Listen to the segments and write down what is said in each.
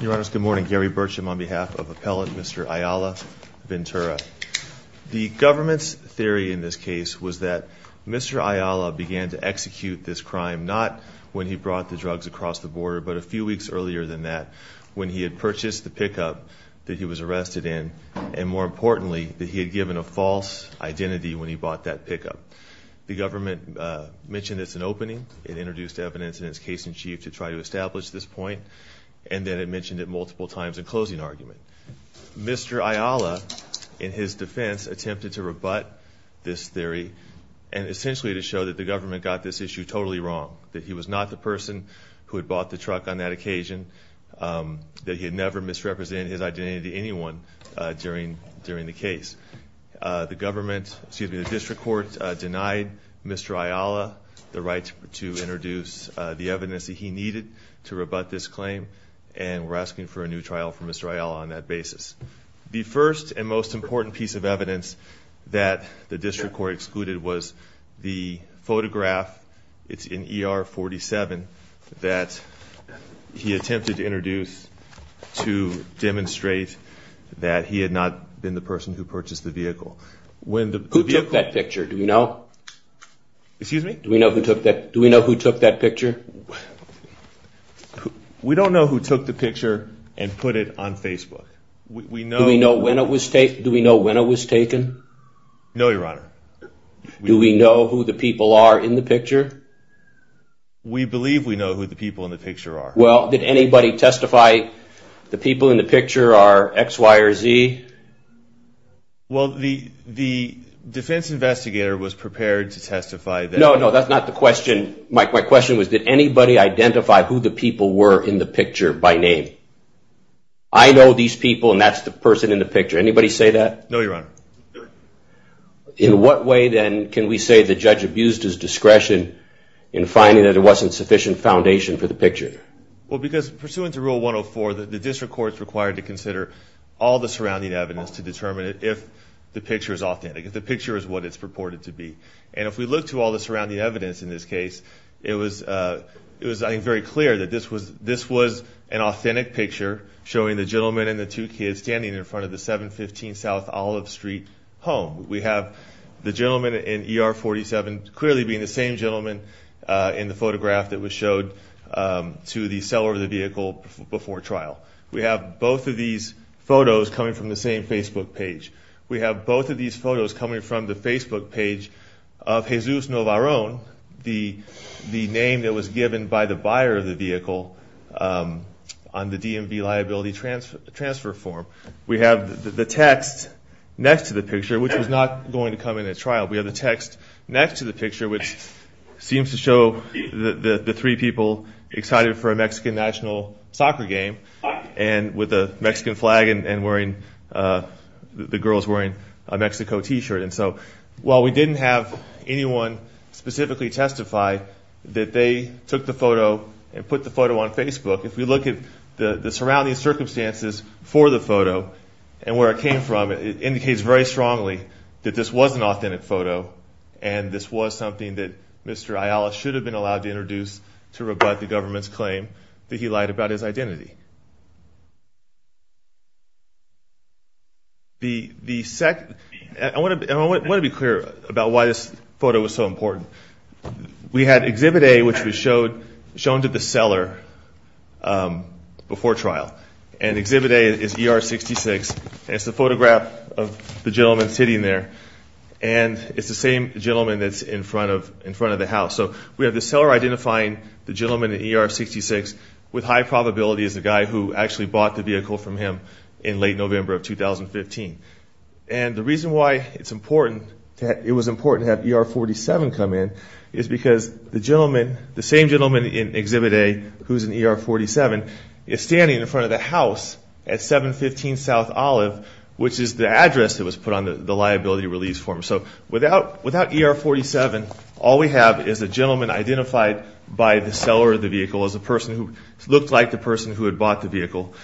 Your honors, good morning. Gary Burcham on behalf of appellate Mr. Ayala-Ventura. The government's theory in this case was that Mr. Ayala began to execute this crime not when he brought the drugs across the border but a few weeks earlier than that when he had purchased the pickup that he was arrested in and more importantly that he had given a false identity when he bought that pickup. The government mentioned it's an opening, it introduced evidence in its case-in-chief to try to establish this point and then it mentioned it multiple times in closing argument. Mr. Ayala in his defense attempted to rebut this theory and essentially to show that the government got this issue totally wrong that he was not the person who had bought the truck on that occasion, that he had never misrepresented his identity to anyone during during the case. The government, excuse me, the district court denied Mr. Ayala the right to introduce the evidence that he needed to rebut this claim and we're asking for a new trial for Mr. Ayala on that basis. The first and most important piece of evidence that the district court excluded was the photograph, it's in ER 47, that he attempted to introduce to demonstrate that he had not been the person who purchased the vehicle. Who took that picture, do we know? Excuse me? Do we know who took that picture? We don't know who took the picture and put it on Facebook. Do we know when it was taken? No, your honor. Do we know who the people are in the picture? We believe we know who the people in the picture are. Well, did anybody testify the people in the picture by name? I know these people and that's the person in the picture. Anybody say that? No, your honor. In what way then can we say the judge abused his discretion in finding that it wasn't sufficient foundation for the picture? Well, because pursuant to rule 104, the district court is required to consider all the surrounding evidence to determine if the picture is authentic, if the picture is what it's purported to be. And if we look to all the surrounding evidence in this case, it was very clear that this was an authentic picture showing the gentleman and the two kids standing in front of the 715 South Olive Street home. We have the gentleman in ER 47 clearly being the same gentleman in the photograph that was showed to the seller of the vehicle before trial. We have both of these photos coming from the same Facebook page. We have both of these photos coming from the Facebook page of Jesus Novarone, the name that was given by the buyer of the vehicle on the DMV liability transfer form. We have the text next to the picture, which was not going to come in at trial. We have the text next to the picture, which seems to show the three people excited for a Mexican national soccer game and with a the girls wearing a Mexico t-shirt. And so while we didn't have anyone specifically testify that they took the photo and put the photo on Facebook, if we look at the the surrounding circumstances for the photo and where it came from, it indicates very strongly that this was an authentic photo and this was something that Mr. Ayala should have been allowed to introduce to rebut the government's claim that he lied about his identity. I want to be clear about why this photo was so important. We had Exhibit A, which was shown to the seller before trial and Exhibit A is ER 66. It's the photograph of the gentleman sitting there and it's the same gentleman that's in front of the house. So we have the seller identifying the gentleman in ER 66 with high probability is the guy who actually bought the vehicle from him in late November of 2015. And the reason why it's important that it was important to have ER 47 come in is because the gentleman, the same gentleman in Exhibit A who's in ER 47, is standing in front of the house at 715 South Olive, which is the address that was put on the liability release form. So without ER 47, all we have is a gentleman identified by the seller of the vehicle as a person who looked like the person who had bought the vehicle.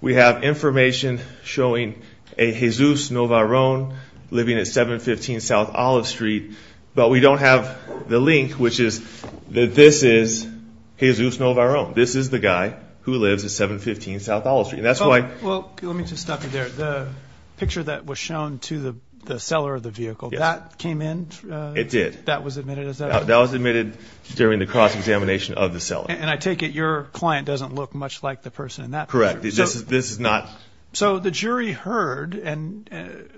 We have information showing a Jesus Novarone living at 715 South Olive Street, but we don't have the link, which is that this is Jesus Novarone. This is the guy who lives at 715 South Olive Street. And that's why, well let me just stop you there. The picture that was shown to the seller of the vehicle, that came in? It did. That was admitted as that? That was admitted during the cross-examination of the seller. And I take it your client doesn't look much like the person in that picture? Correct. This is not... So the jury heard and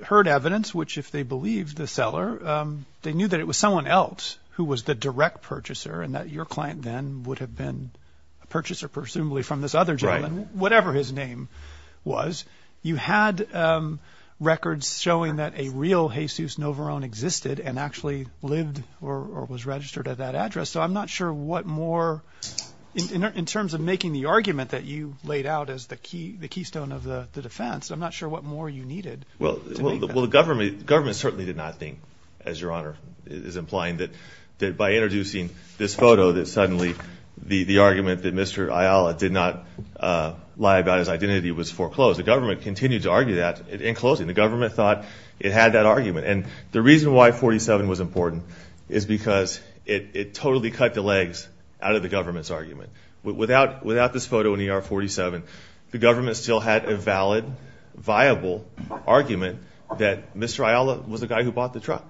heard evidence, which if they believed the seller, they knew that it was someone else who was the direct purchaser and that your client then would have been a purchaser presumably from this other gentleman, whatever his name was. You had records showing that a real Jesus Novarone existed and actually lived or was registered at that address. So I'm not sure what more, in terms of making the argument that you laid out as the keystone of the defense, I'm not sure what more you needed. Well the government certainly did not think, as your Honor is implying, that by introducing this photo that suddenly the argument that Mr. Ayala did not lie about his identity was foreclosed. The government continued to argue that in closing. The government thought it had that argument. And the reason why 47 was important is because it totally cut the legs out of the government's argument. Without this photo in ER 47, the government still had a valid, viable argument that Mr. Ayala was the guy who bought the truck.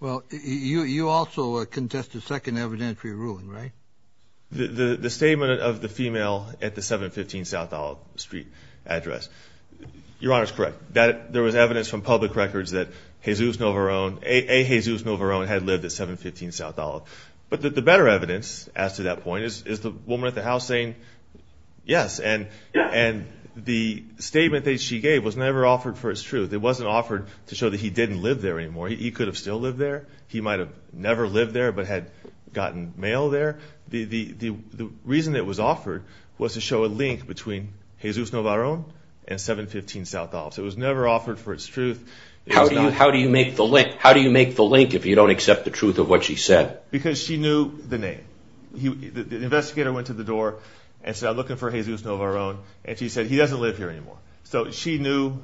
Well you also contested second evidentiary ruling, right? The statement of the female at the 715 South Isle Street address. Your Honor, there was evidence from public records that a Jesus Novarone had lived at 715 South Isle. But the better evidence, as to that point, is the woman at the house saying, yes. And the statement that she gave was never offered for its truth. It wasn't offered to show that he didn't live there anymore. He could have still lived there. He might have never lived there but had gotten mail there. The reason it was offered was to show a link between Jesus Novarone and 715 South Isle. So it was never offered for its truth. How do you make the link? How do you make the link if you don't accept the truth of what she said? Because she knew the name. The investigator went to the door and said, I'm looking for Jesus Novarone. And she said, he doesn't live here anymore. So she knew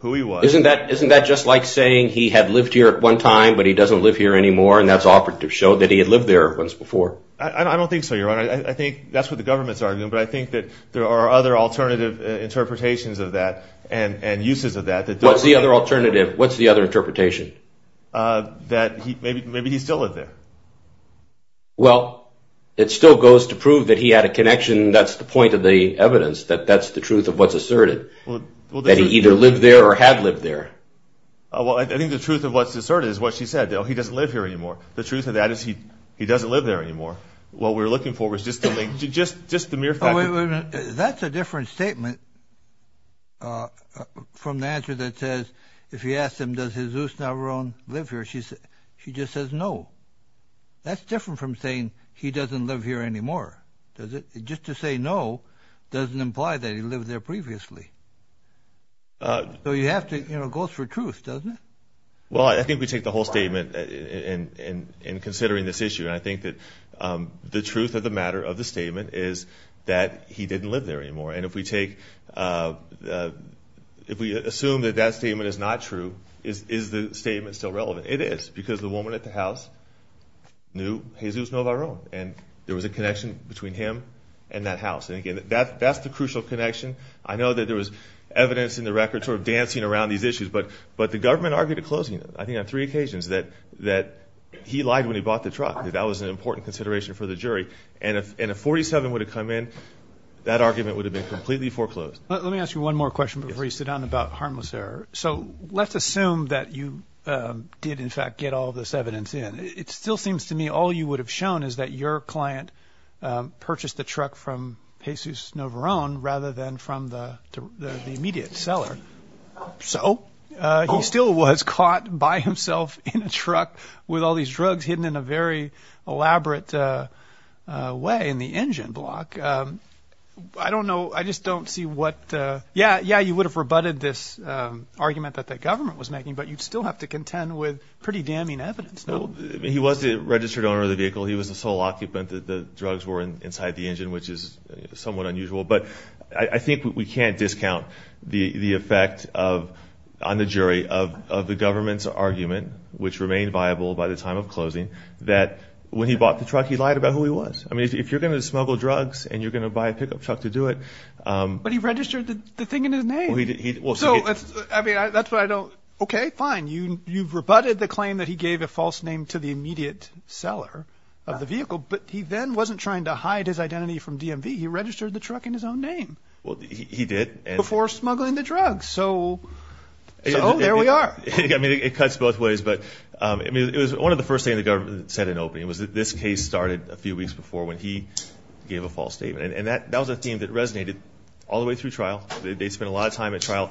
who he was. Isn't that just like saying he had lived here at one time but he doesn't live here anymore and that's offered to show that he had lived there once before? I don't think so, Your Honor. I think that's what the government's arguing. But I think that there are other alternative interpretations of that and uses of that. What's the other alternative? What's the other interpretation? That maybe he still lived there. Well, it still goes to prove that he had a connection. That's the point of the evidence, that that's the truth of what's asserted. That he either lived there or had lived there. Well, I think the truth of what's asserted is what she said. He doesn't live here anymore. The truth of that is he doesn't live there anymore. What we're looking for is just the link, just the mere fact that... Wait a minute. That's a different statement from the answer that says, if you ask them, does Jesus Novarone live here? She just says no. That's different from saying he doesn't live here anymore. Does it? Just to say no doesn't imply that he lived there previously. So you have to, you know, go for truth, doesn't it? Well, I think we take the whole statement in considering this issue. And I think that the truth of the matter of the statement is that he didn't live there anymore. And if we take, if we assume that that statement is not true, is the statement still relevant? It is. Because the woman at the house knew Jesus Novarone. And there was a connection between him and that house. And again, that's the crucial connection. I know that there was evidence in the record sort of dancing around these issues. But the government argued at closing, I think on three occasions, that he lied when he bought the truck. That was an important consideration for the jury. And if 47 would have come in, that argument would have been completely foreclosed. Let me ask you one more question before you sit down about harmless error. So let's assume that you did in fact get all this evidence in. It still seems to me all you would have shown is that your client purchased the truck from Jesus Novarone rather than from the immediate seller. So? He still was caught by himself in a truck with all these drugs hidden in a very elaborate way in the engine block. I don't know. I just don't see what. Yeah. Yeah. You would have rebutted this argument that the government was making. But you'd still have to contend with pretty damning evidence. He was the registered owner of the vehicle. He was the sole occupant that the drugs were inside the engine, which is somewhat unusual. But I think we can't discount the effect of on the jury of the government's argument, which remained viable by the time of closing, that when he bought the truck, he lied about who he was. I mean, if you're going to smuggle drugs and you're going to buy a pickup truck to do it. But he registered the thing in his name. So I mean, that's what I don't. Okay, fine. You've rebutted the claim that he gave a false name to the immediate seller of the vehicle. But he then wasn't trying to hide his identity from DMV. He registered the truck in his own name. Well, he did before smuggling the drugs. So there we are. I mean, it cuts both ways. But I mean, it was one of the first thing the government said in opening was that this case started a few weeks before when he gave a false statement. And that that was a theme that resonated all the way through trial. They spent a lot of time at trial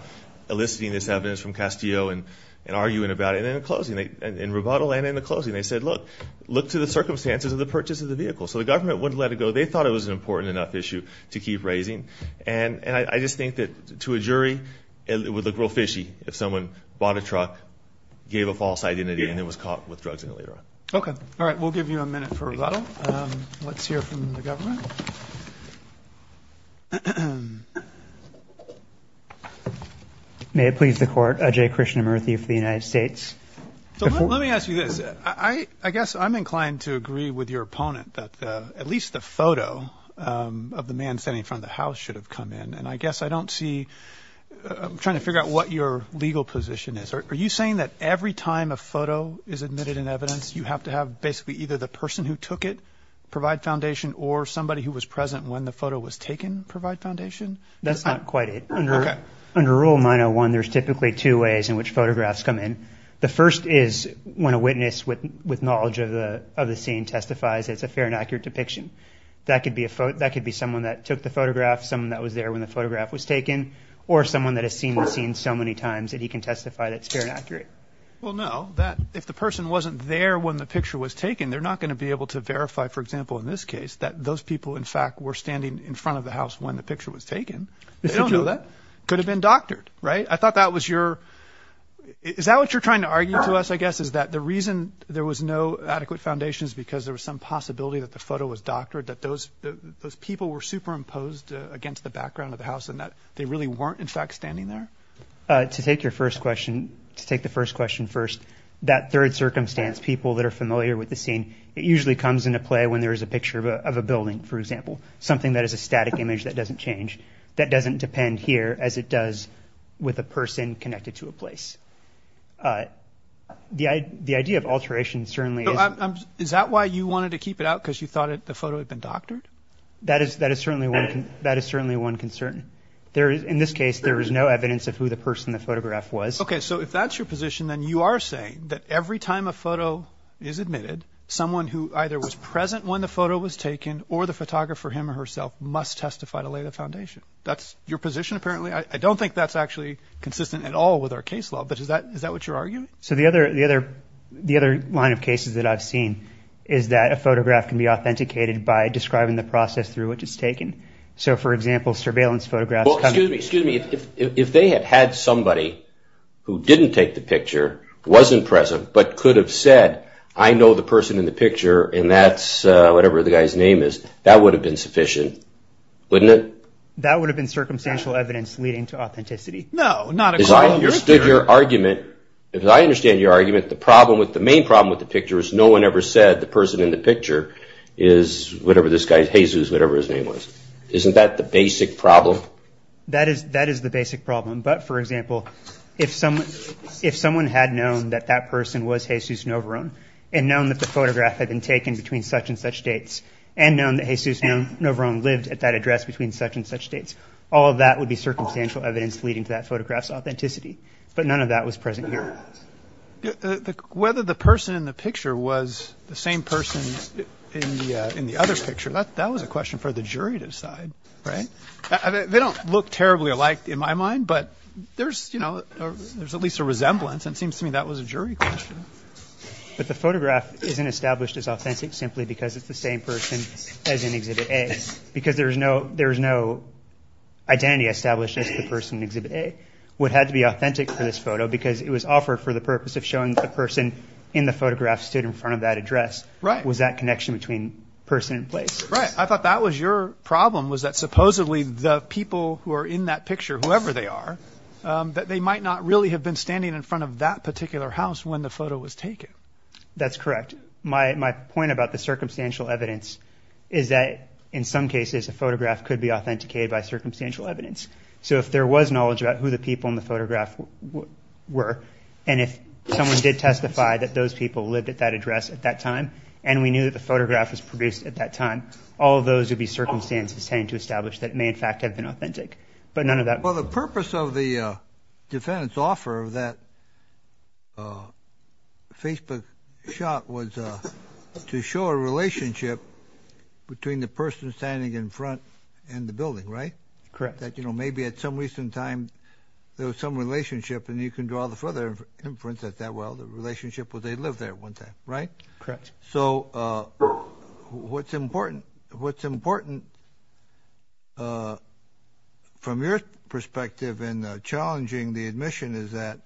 eliciting this evidence from Castillo and arguing about it. And in closing, in rebuttal and in the closing, they said, look, look to the circumstances of the purchase of the vehicle. So the government wouldn't let it go. They thought it was an important enough issue to keep raising. And I just think that to a jury, it would look real fishy if someone bought a truck, gave a false identity and then was caught with drugs in it later on. Okay. All right. We'll give you a minute for rebuttal. Let's hear from the government. May it please the court. Ajay Krishnamurthy for the United States. So let me ask you this. I guess I'm inclined to agree with your opponent that at least the photo of the man standing in front of the house should have come in. And I guess I don't see, I'm trying to figure out what your legal position is. Are you saying that every time a photo is admitted in evidence, you have to have basically either the person who took it provide foundation or somebody who was present when the photo was taken provide foundation? That's not quite it. Under rule 901, there's typically two ways in which photographs come in. The first is when a witness with knowledge of the scene testifies, it's a fair and accurate depiction. That could be someone that took the photograph, someone that was there when the photograph was taken, or someone that has seen the scene so many times that he can testify that it's fair and accurate. Well, no, if the person wasn't there when the picture was taken, they're not going to be able to verify, for example, in this case, that those people in fact were standing in front of the house when the picture was taken. They don't know that. Could have been doctored, right? I thought that was your, is that what you're trying to argue to us, I guess, is that the reason there was no adequate foundation is because there was some possibility that the photo was doctored, that those people were superimposed against the background of the house, and that they really weren't, in fact, standing there? To take your first question, to take the first question first, that third circumstance, people that are familiar with the scene, it usually comes into play when there is a picture of a building, for example, something that is a static image that doesn't change, that doesn't depend here as it does with a person connected to a place. The idea of alteration certainly is... Is that why you wanted to keep it out, because you thought the photo had been doctored? That is certainly one concern. In this case, there is no evidence of who the person the photograph was. Okay, so if that's your position, then you are saying that every time a photo is admitted, someone who either was present when the photo was taken or the photographer, him or herself, must testify to lay the foundation. That's your position, apparently? I don't think that's actually consistent at all with our case law, but is that what you're arguing? So the other line of cases that I've seen is that a photograph can be authenticated by describing the process through which it's taken. So, for example, surveillance photographs... Well, excuse me, excuse me. If they had had somebody who didn't take the picture, was impressive, but could have said, I know the person in the picture and that's whatever the guy's name is, that would have been sufficient, wouldn't it? That would have been circumstantial evidence leading to authenticity. No, not according to your theory. If I understand your argument, the main problem with the picture is no one ever said the person in the picture is whatever this guy's, Jesus, whatever his name was. Isn't that the basic problem? That is the basic problem. But, for example, if someone had known that that person was Jesus Novorone and known that the photograph had been taken between such and such dates and known that Jesus Novorone lived at that address between such and such dates, all of that would be circumstantial evidence leading to that photograph's authenticity. But none of that was present here. Whether the person in the picture was the same person in the other picture, that was a question for the jury to decide, right? They don't look terribly alike in my mind, but there's, you know, there's at least a resemblance. It seems to me that was a jury question. But the photograph isn't established as authentic simply because it's the same person as in Exhibit A, because there's no identity established as the person in Exhibit A would have to be authentic for this photo because it was offered for the purpose of showing the person in the photograph stood in front of that address. Right. Was that connection between person and place? Right. I thought that was your problem, was that supposedly the people who are in that picture, whoever they are, that they might not really have been standing in front of that particular house when the photo was taken. That's correct. My point about the circumstantial evidence is that in some cases, a photograph could be authenticated by circumstantial evidence. So if there was knowledge about who the people in the photograph were, and if someone did testify that those people lived at that address at that time, and we knew that the photograph was produced at that time, all of those would be circumstances tending to establish that it may in fact have been authentic, but none of that. Well, the purpose of the defendant's offer of that Facebook shot was to show a relationship between the person standing in front and the building, right? Correct. That, you know, maybe at some recent time there was some relationship, and you can draw the further inference that, well, the relationship was they lived there at one time, right? Correct. So what's important from your perspective in challenging the admission is that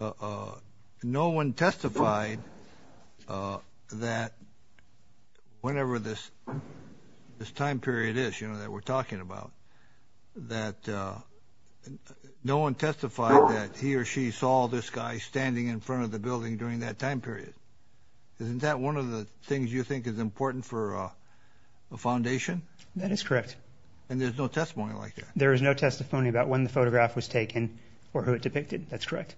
no one testified that whenever this time period is, you know, that we're talking about, that no one testified that he or she saw this guy standing in front of the building during that time period. Isn't that one of the things you think is important for a foundation? That is correct. And there's no testimony like that? There is no testimony about when the photograph was taken or who it depicted. That's correct.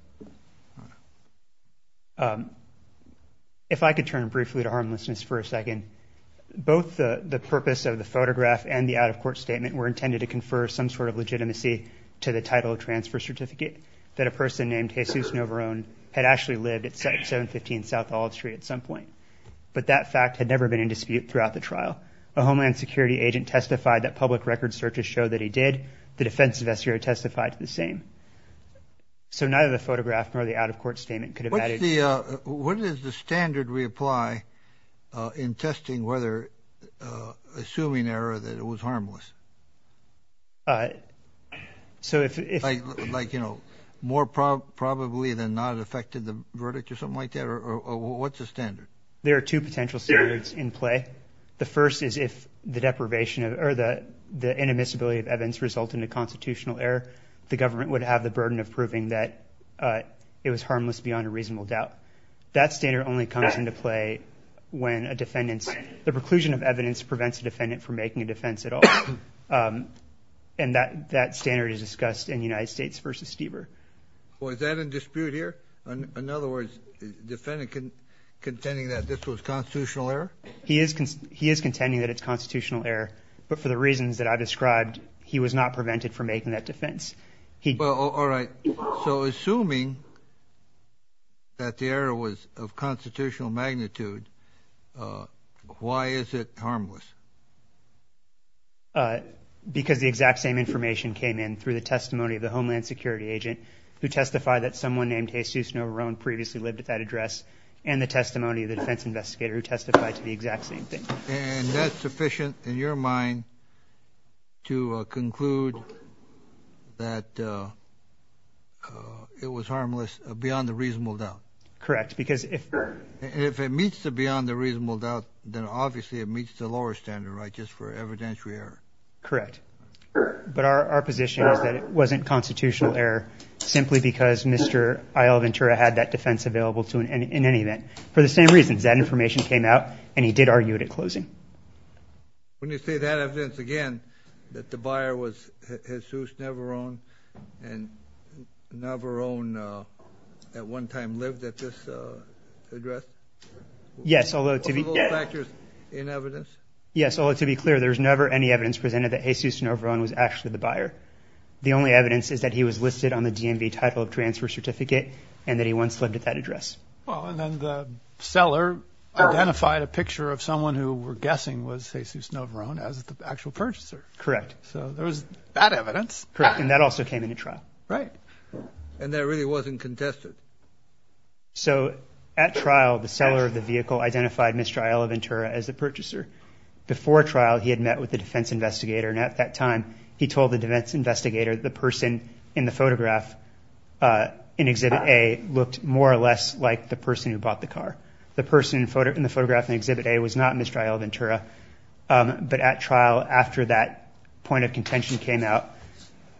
If I could turn briefly to harmlessness for a second, both the purpose of the photograph and the out-of-court statement were intended to confer some sort of legitimacy to the title of transfer certificate that a person named Jesus Navarone had actually lived at 715 South Olive Street at some point. But that fact had never been in dispute throughout the trial. A Homeland Security agent testified that public record searches show that he did. The defense investigator testified to the same. So neither the photograph nor the out-of-court statement could have added to the legitimacy of the claim. I think the other thing that I want to ask is, what is the, what is the standard we apply in testing whether, assuming error, that it was harmless? So if, like, you know, more probably than not affected the verdict or something like that, or what's the standard? There are two potential standards in play. The first is if the deprivation of, or the inadmissibility of evidence result in a constitutional error, the government would have the burden of proving that it was harmless beyond a reasonable doubt. That standard only comes into play when a defendant's, the preclusion of evidence prevents a defendant from making a defense at all, and that standard is discussed in United States v. Stieber. Well, is that in dispute here? In other words, defendant contending that this was constitutional error? He is, he is contending that it's constitutional error, but for the reasons that I described, he was not prevented from making that defense. He- Well, all right. So assuming that the error was of constitutional magnitude, why is it harmless? Because the exact same information came in through the testimony of the Homeland Security agent who testified that someone named Jesus Novarone previously lived at that address, and the testimony of the defense investigator who testified to the exact same thing. And that's sufficient in your mind to conclude that it was harmless beyond a reasonable doubt? Correct. Because if it meets the beyond the reasonable doubt, then obviously it meets the lower standard, right? Just for evidentiary error. Correct. But our position is that it wasn't constitutional error simply because Mr. Ayala Ventura had that defense available to him in any event. For the same reasons, that information came out and he did argue it at closing. When you say that evidence again, that the buyer was Jesus Novarone, and Novarone at one time lived at this address? Yes. Although to be- Are those factors in evidence? Yes. Although to be clear, there's never any evidence presented that Jesus Novarone was actually the buyer. The only evidence is that he was listed on the DMV title of transfer certificate and that he once lived at that address. Well, and then the seller identified a picture of someone who we're guessing was Jesus Novarone as the actual purchaser. Correct. So there was that evidence. Correct. And that also came into trial. Right. And that really wasn't contested. So at trial, the seller of the vehicle identified Mr. Ayala Ventura as the purchaser. Before trial, he had met with the defense investigator. And at that time, he told the defense investigator, the person in the photograph in Exhibit A was not Mr. Ayala Ventura. But at trial, after that point of contention came out,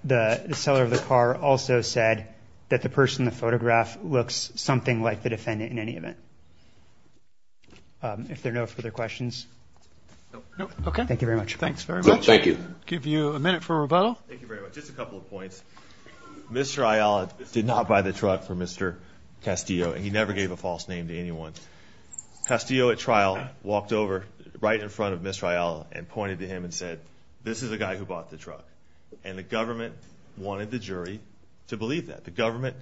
the seller of the car also said that the person in the photograph looks something like the defendant in any event. If there are no further questions. Okay. Thank you very much. Thanks very much. Thank you. Give you a minute for rebuttal. Thank you very much. Just a couple of points. Mr. Ayala did not buy the truck for Mr. Castillo. And he never gave a false name to anyone. Castillo at trial walked over right in front of Mr. Ayala and pointed to him and said, this is the guy who bought the truck. And the government wanted the jury to believe that. The government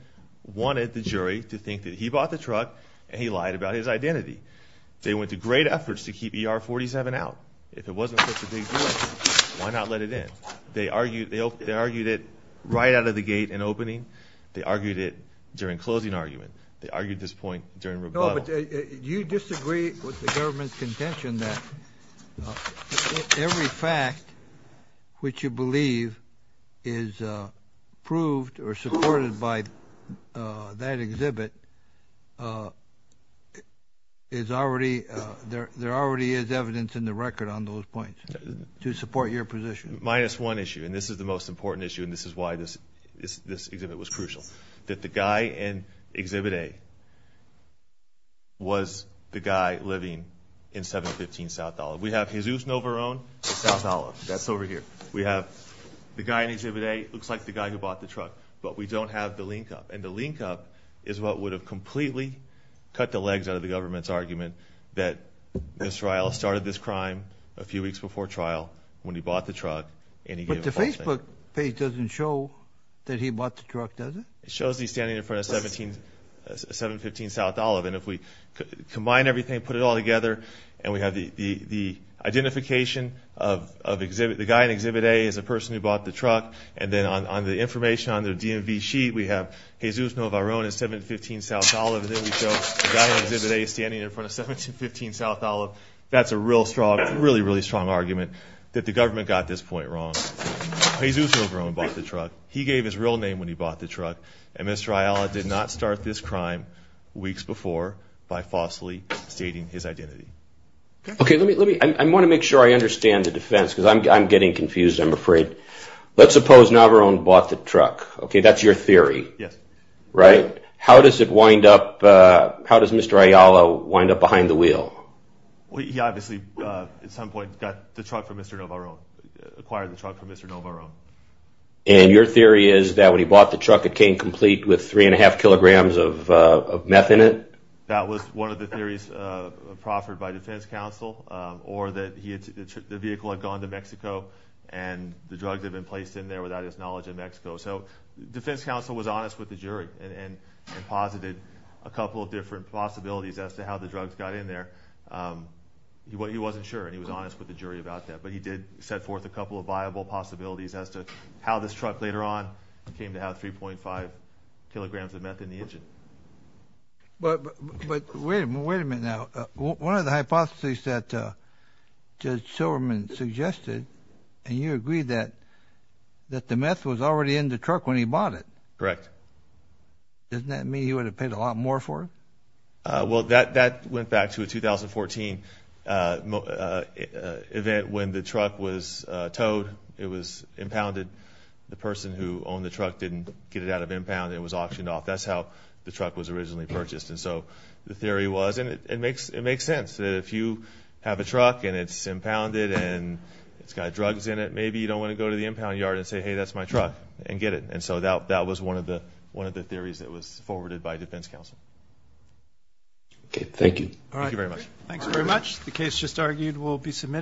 wanted the jury to think that he bought the truck and he lied about his identity. They went to great efforts to keep ER 47 out. If it wasn't such a big deal, why not let it in? They argued it right out of the gate in opening. They argued it during closing argument. They argued this point during rebuttal. But do you disagree with the government's contention that every fact which you believe is approved or supported by that exhibit is already there already is evidence in the record on those points to support your position. Minus one issue. And this is the most important issue. And this is why this, this, this exhibit was crucial that the guy and exhibit a was the guy living in seven, 15 South dollar. We have his use. No, we're on South dollars. That's over here. We have the guy in exhibit a looks like the guy who bought the truck, but we don't have the link up. And the link up is what would have completely cut the legs out of the government's argument that this trial started this crime a few weeks before trial when he bought the truck and he gave it to Facebook page. Doesn't show that he bought the truck. It shows he's standing in front of 17, seven, 15 South dollar. And if we combine everything, put it all together and we have the, the, the identification of, of exhibit, the guy in exhibit a is a person who bought the truck and then on, on the information on their DMV sheet, we have his use. No, of our own is seven, 15 South dollar. And then we show the guy in exhibit a standing in front of seven to 15 South dollar. That's a real strong, really, really strong argument that the government got this point wrong. He's used to grow and bought the truck. He gave his real name when he bought the truck and Mr. Ayala did not start this crime weeks before by falsely stating his identity. Okay. Let me, let me, I want to make sure I understand the defense cause I'm, I'm getting confused. I'm afraid let's suppose Navarone bought the truck. Okay. That's your theory, right? How does it wind up? Uh, how does Mr. Ayala wind up behind the wheel? Well, he obviously, uh, at some point got the truck from Mr. Navarone, acquired the truck from Mr. Navarone. And your theory is that when he bought the truck, it came complete with three and a half kilograms of, uh, meth in it. That was one of the theories, uh, proffered by defense counsel, um, or that he had, the vehicle had gone to Mexico and the drugs had been placed in there without his knowledge of Mexico. So defense counsel was honest with the jury and posited a couple of different possibilities as to how the drugs got in there. Um, he wasn't sure. And he was honest with the jury about that, but he did set forth a couple of viable possibilities as to how this truck later on came to have 3.5 kilograms of meth in the engine. But, but wait a minute. Now, one of the hypotheses that, uh, Judge Silverman suggested, and you agreed that, that the meth was already in the truck when he bought it, correct? Doesn't that mean he would have paid a lot more for it? Uh, well that, that went back to a 2014, uh, uh, event when the truck was, uh, towed, it was impounded. The person who owned the truck didn't get it out of impound. It was auctioned off. That's how the truck was originally purchased. And so the theory was, and it, it makes, it makes sense that if you have a truck and it's impounded and it's got drugs in it, maybe you don't want to go to the impound yard and say, Hey, that's my truck and get it. And so that, that was one of the, one of the theories that was forwarded by defense counsel. Okay. Thank you. All right. Thank you very much. Thanks very much. The case just argued will be submitted.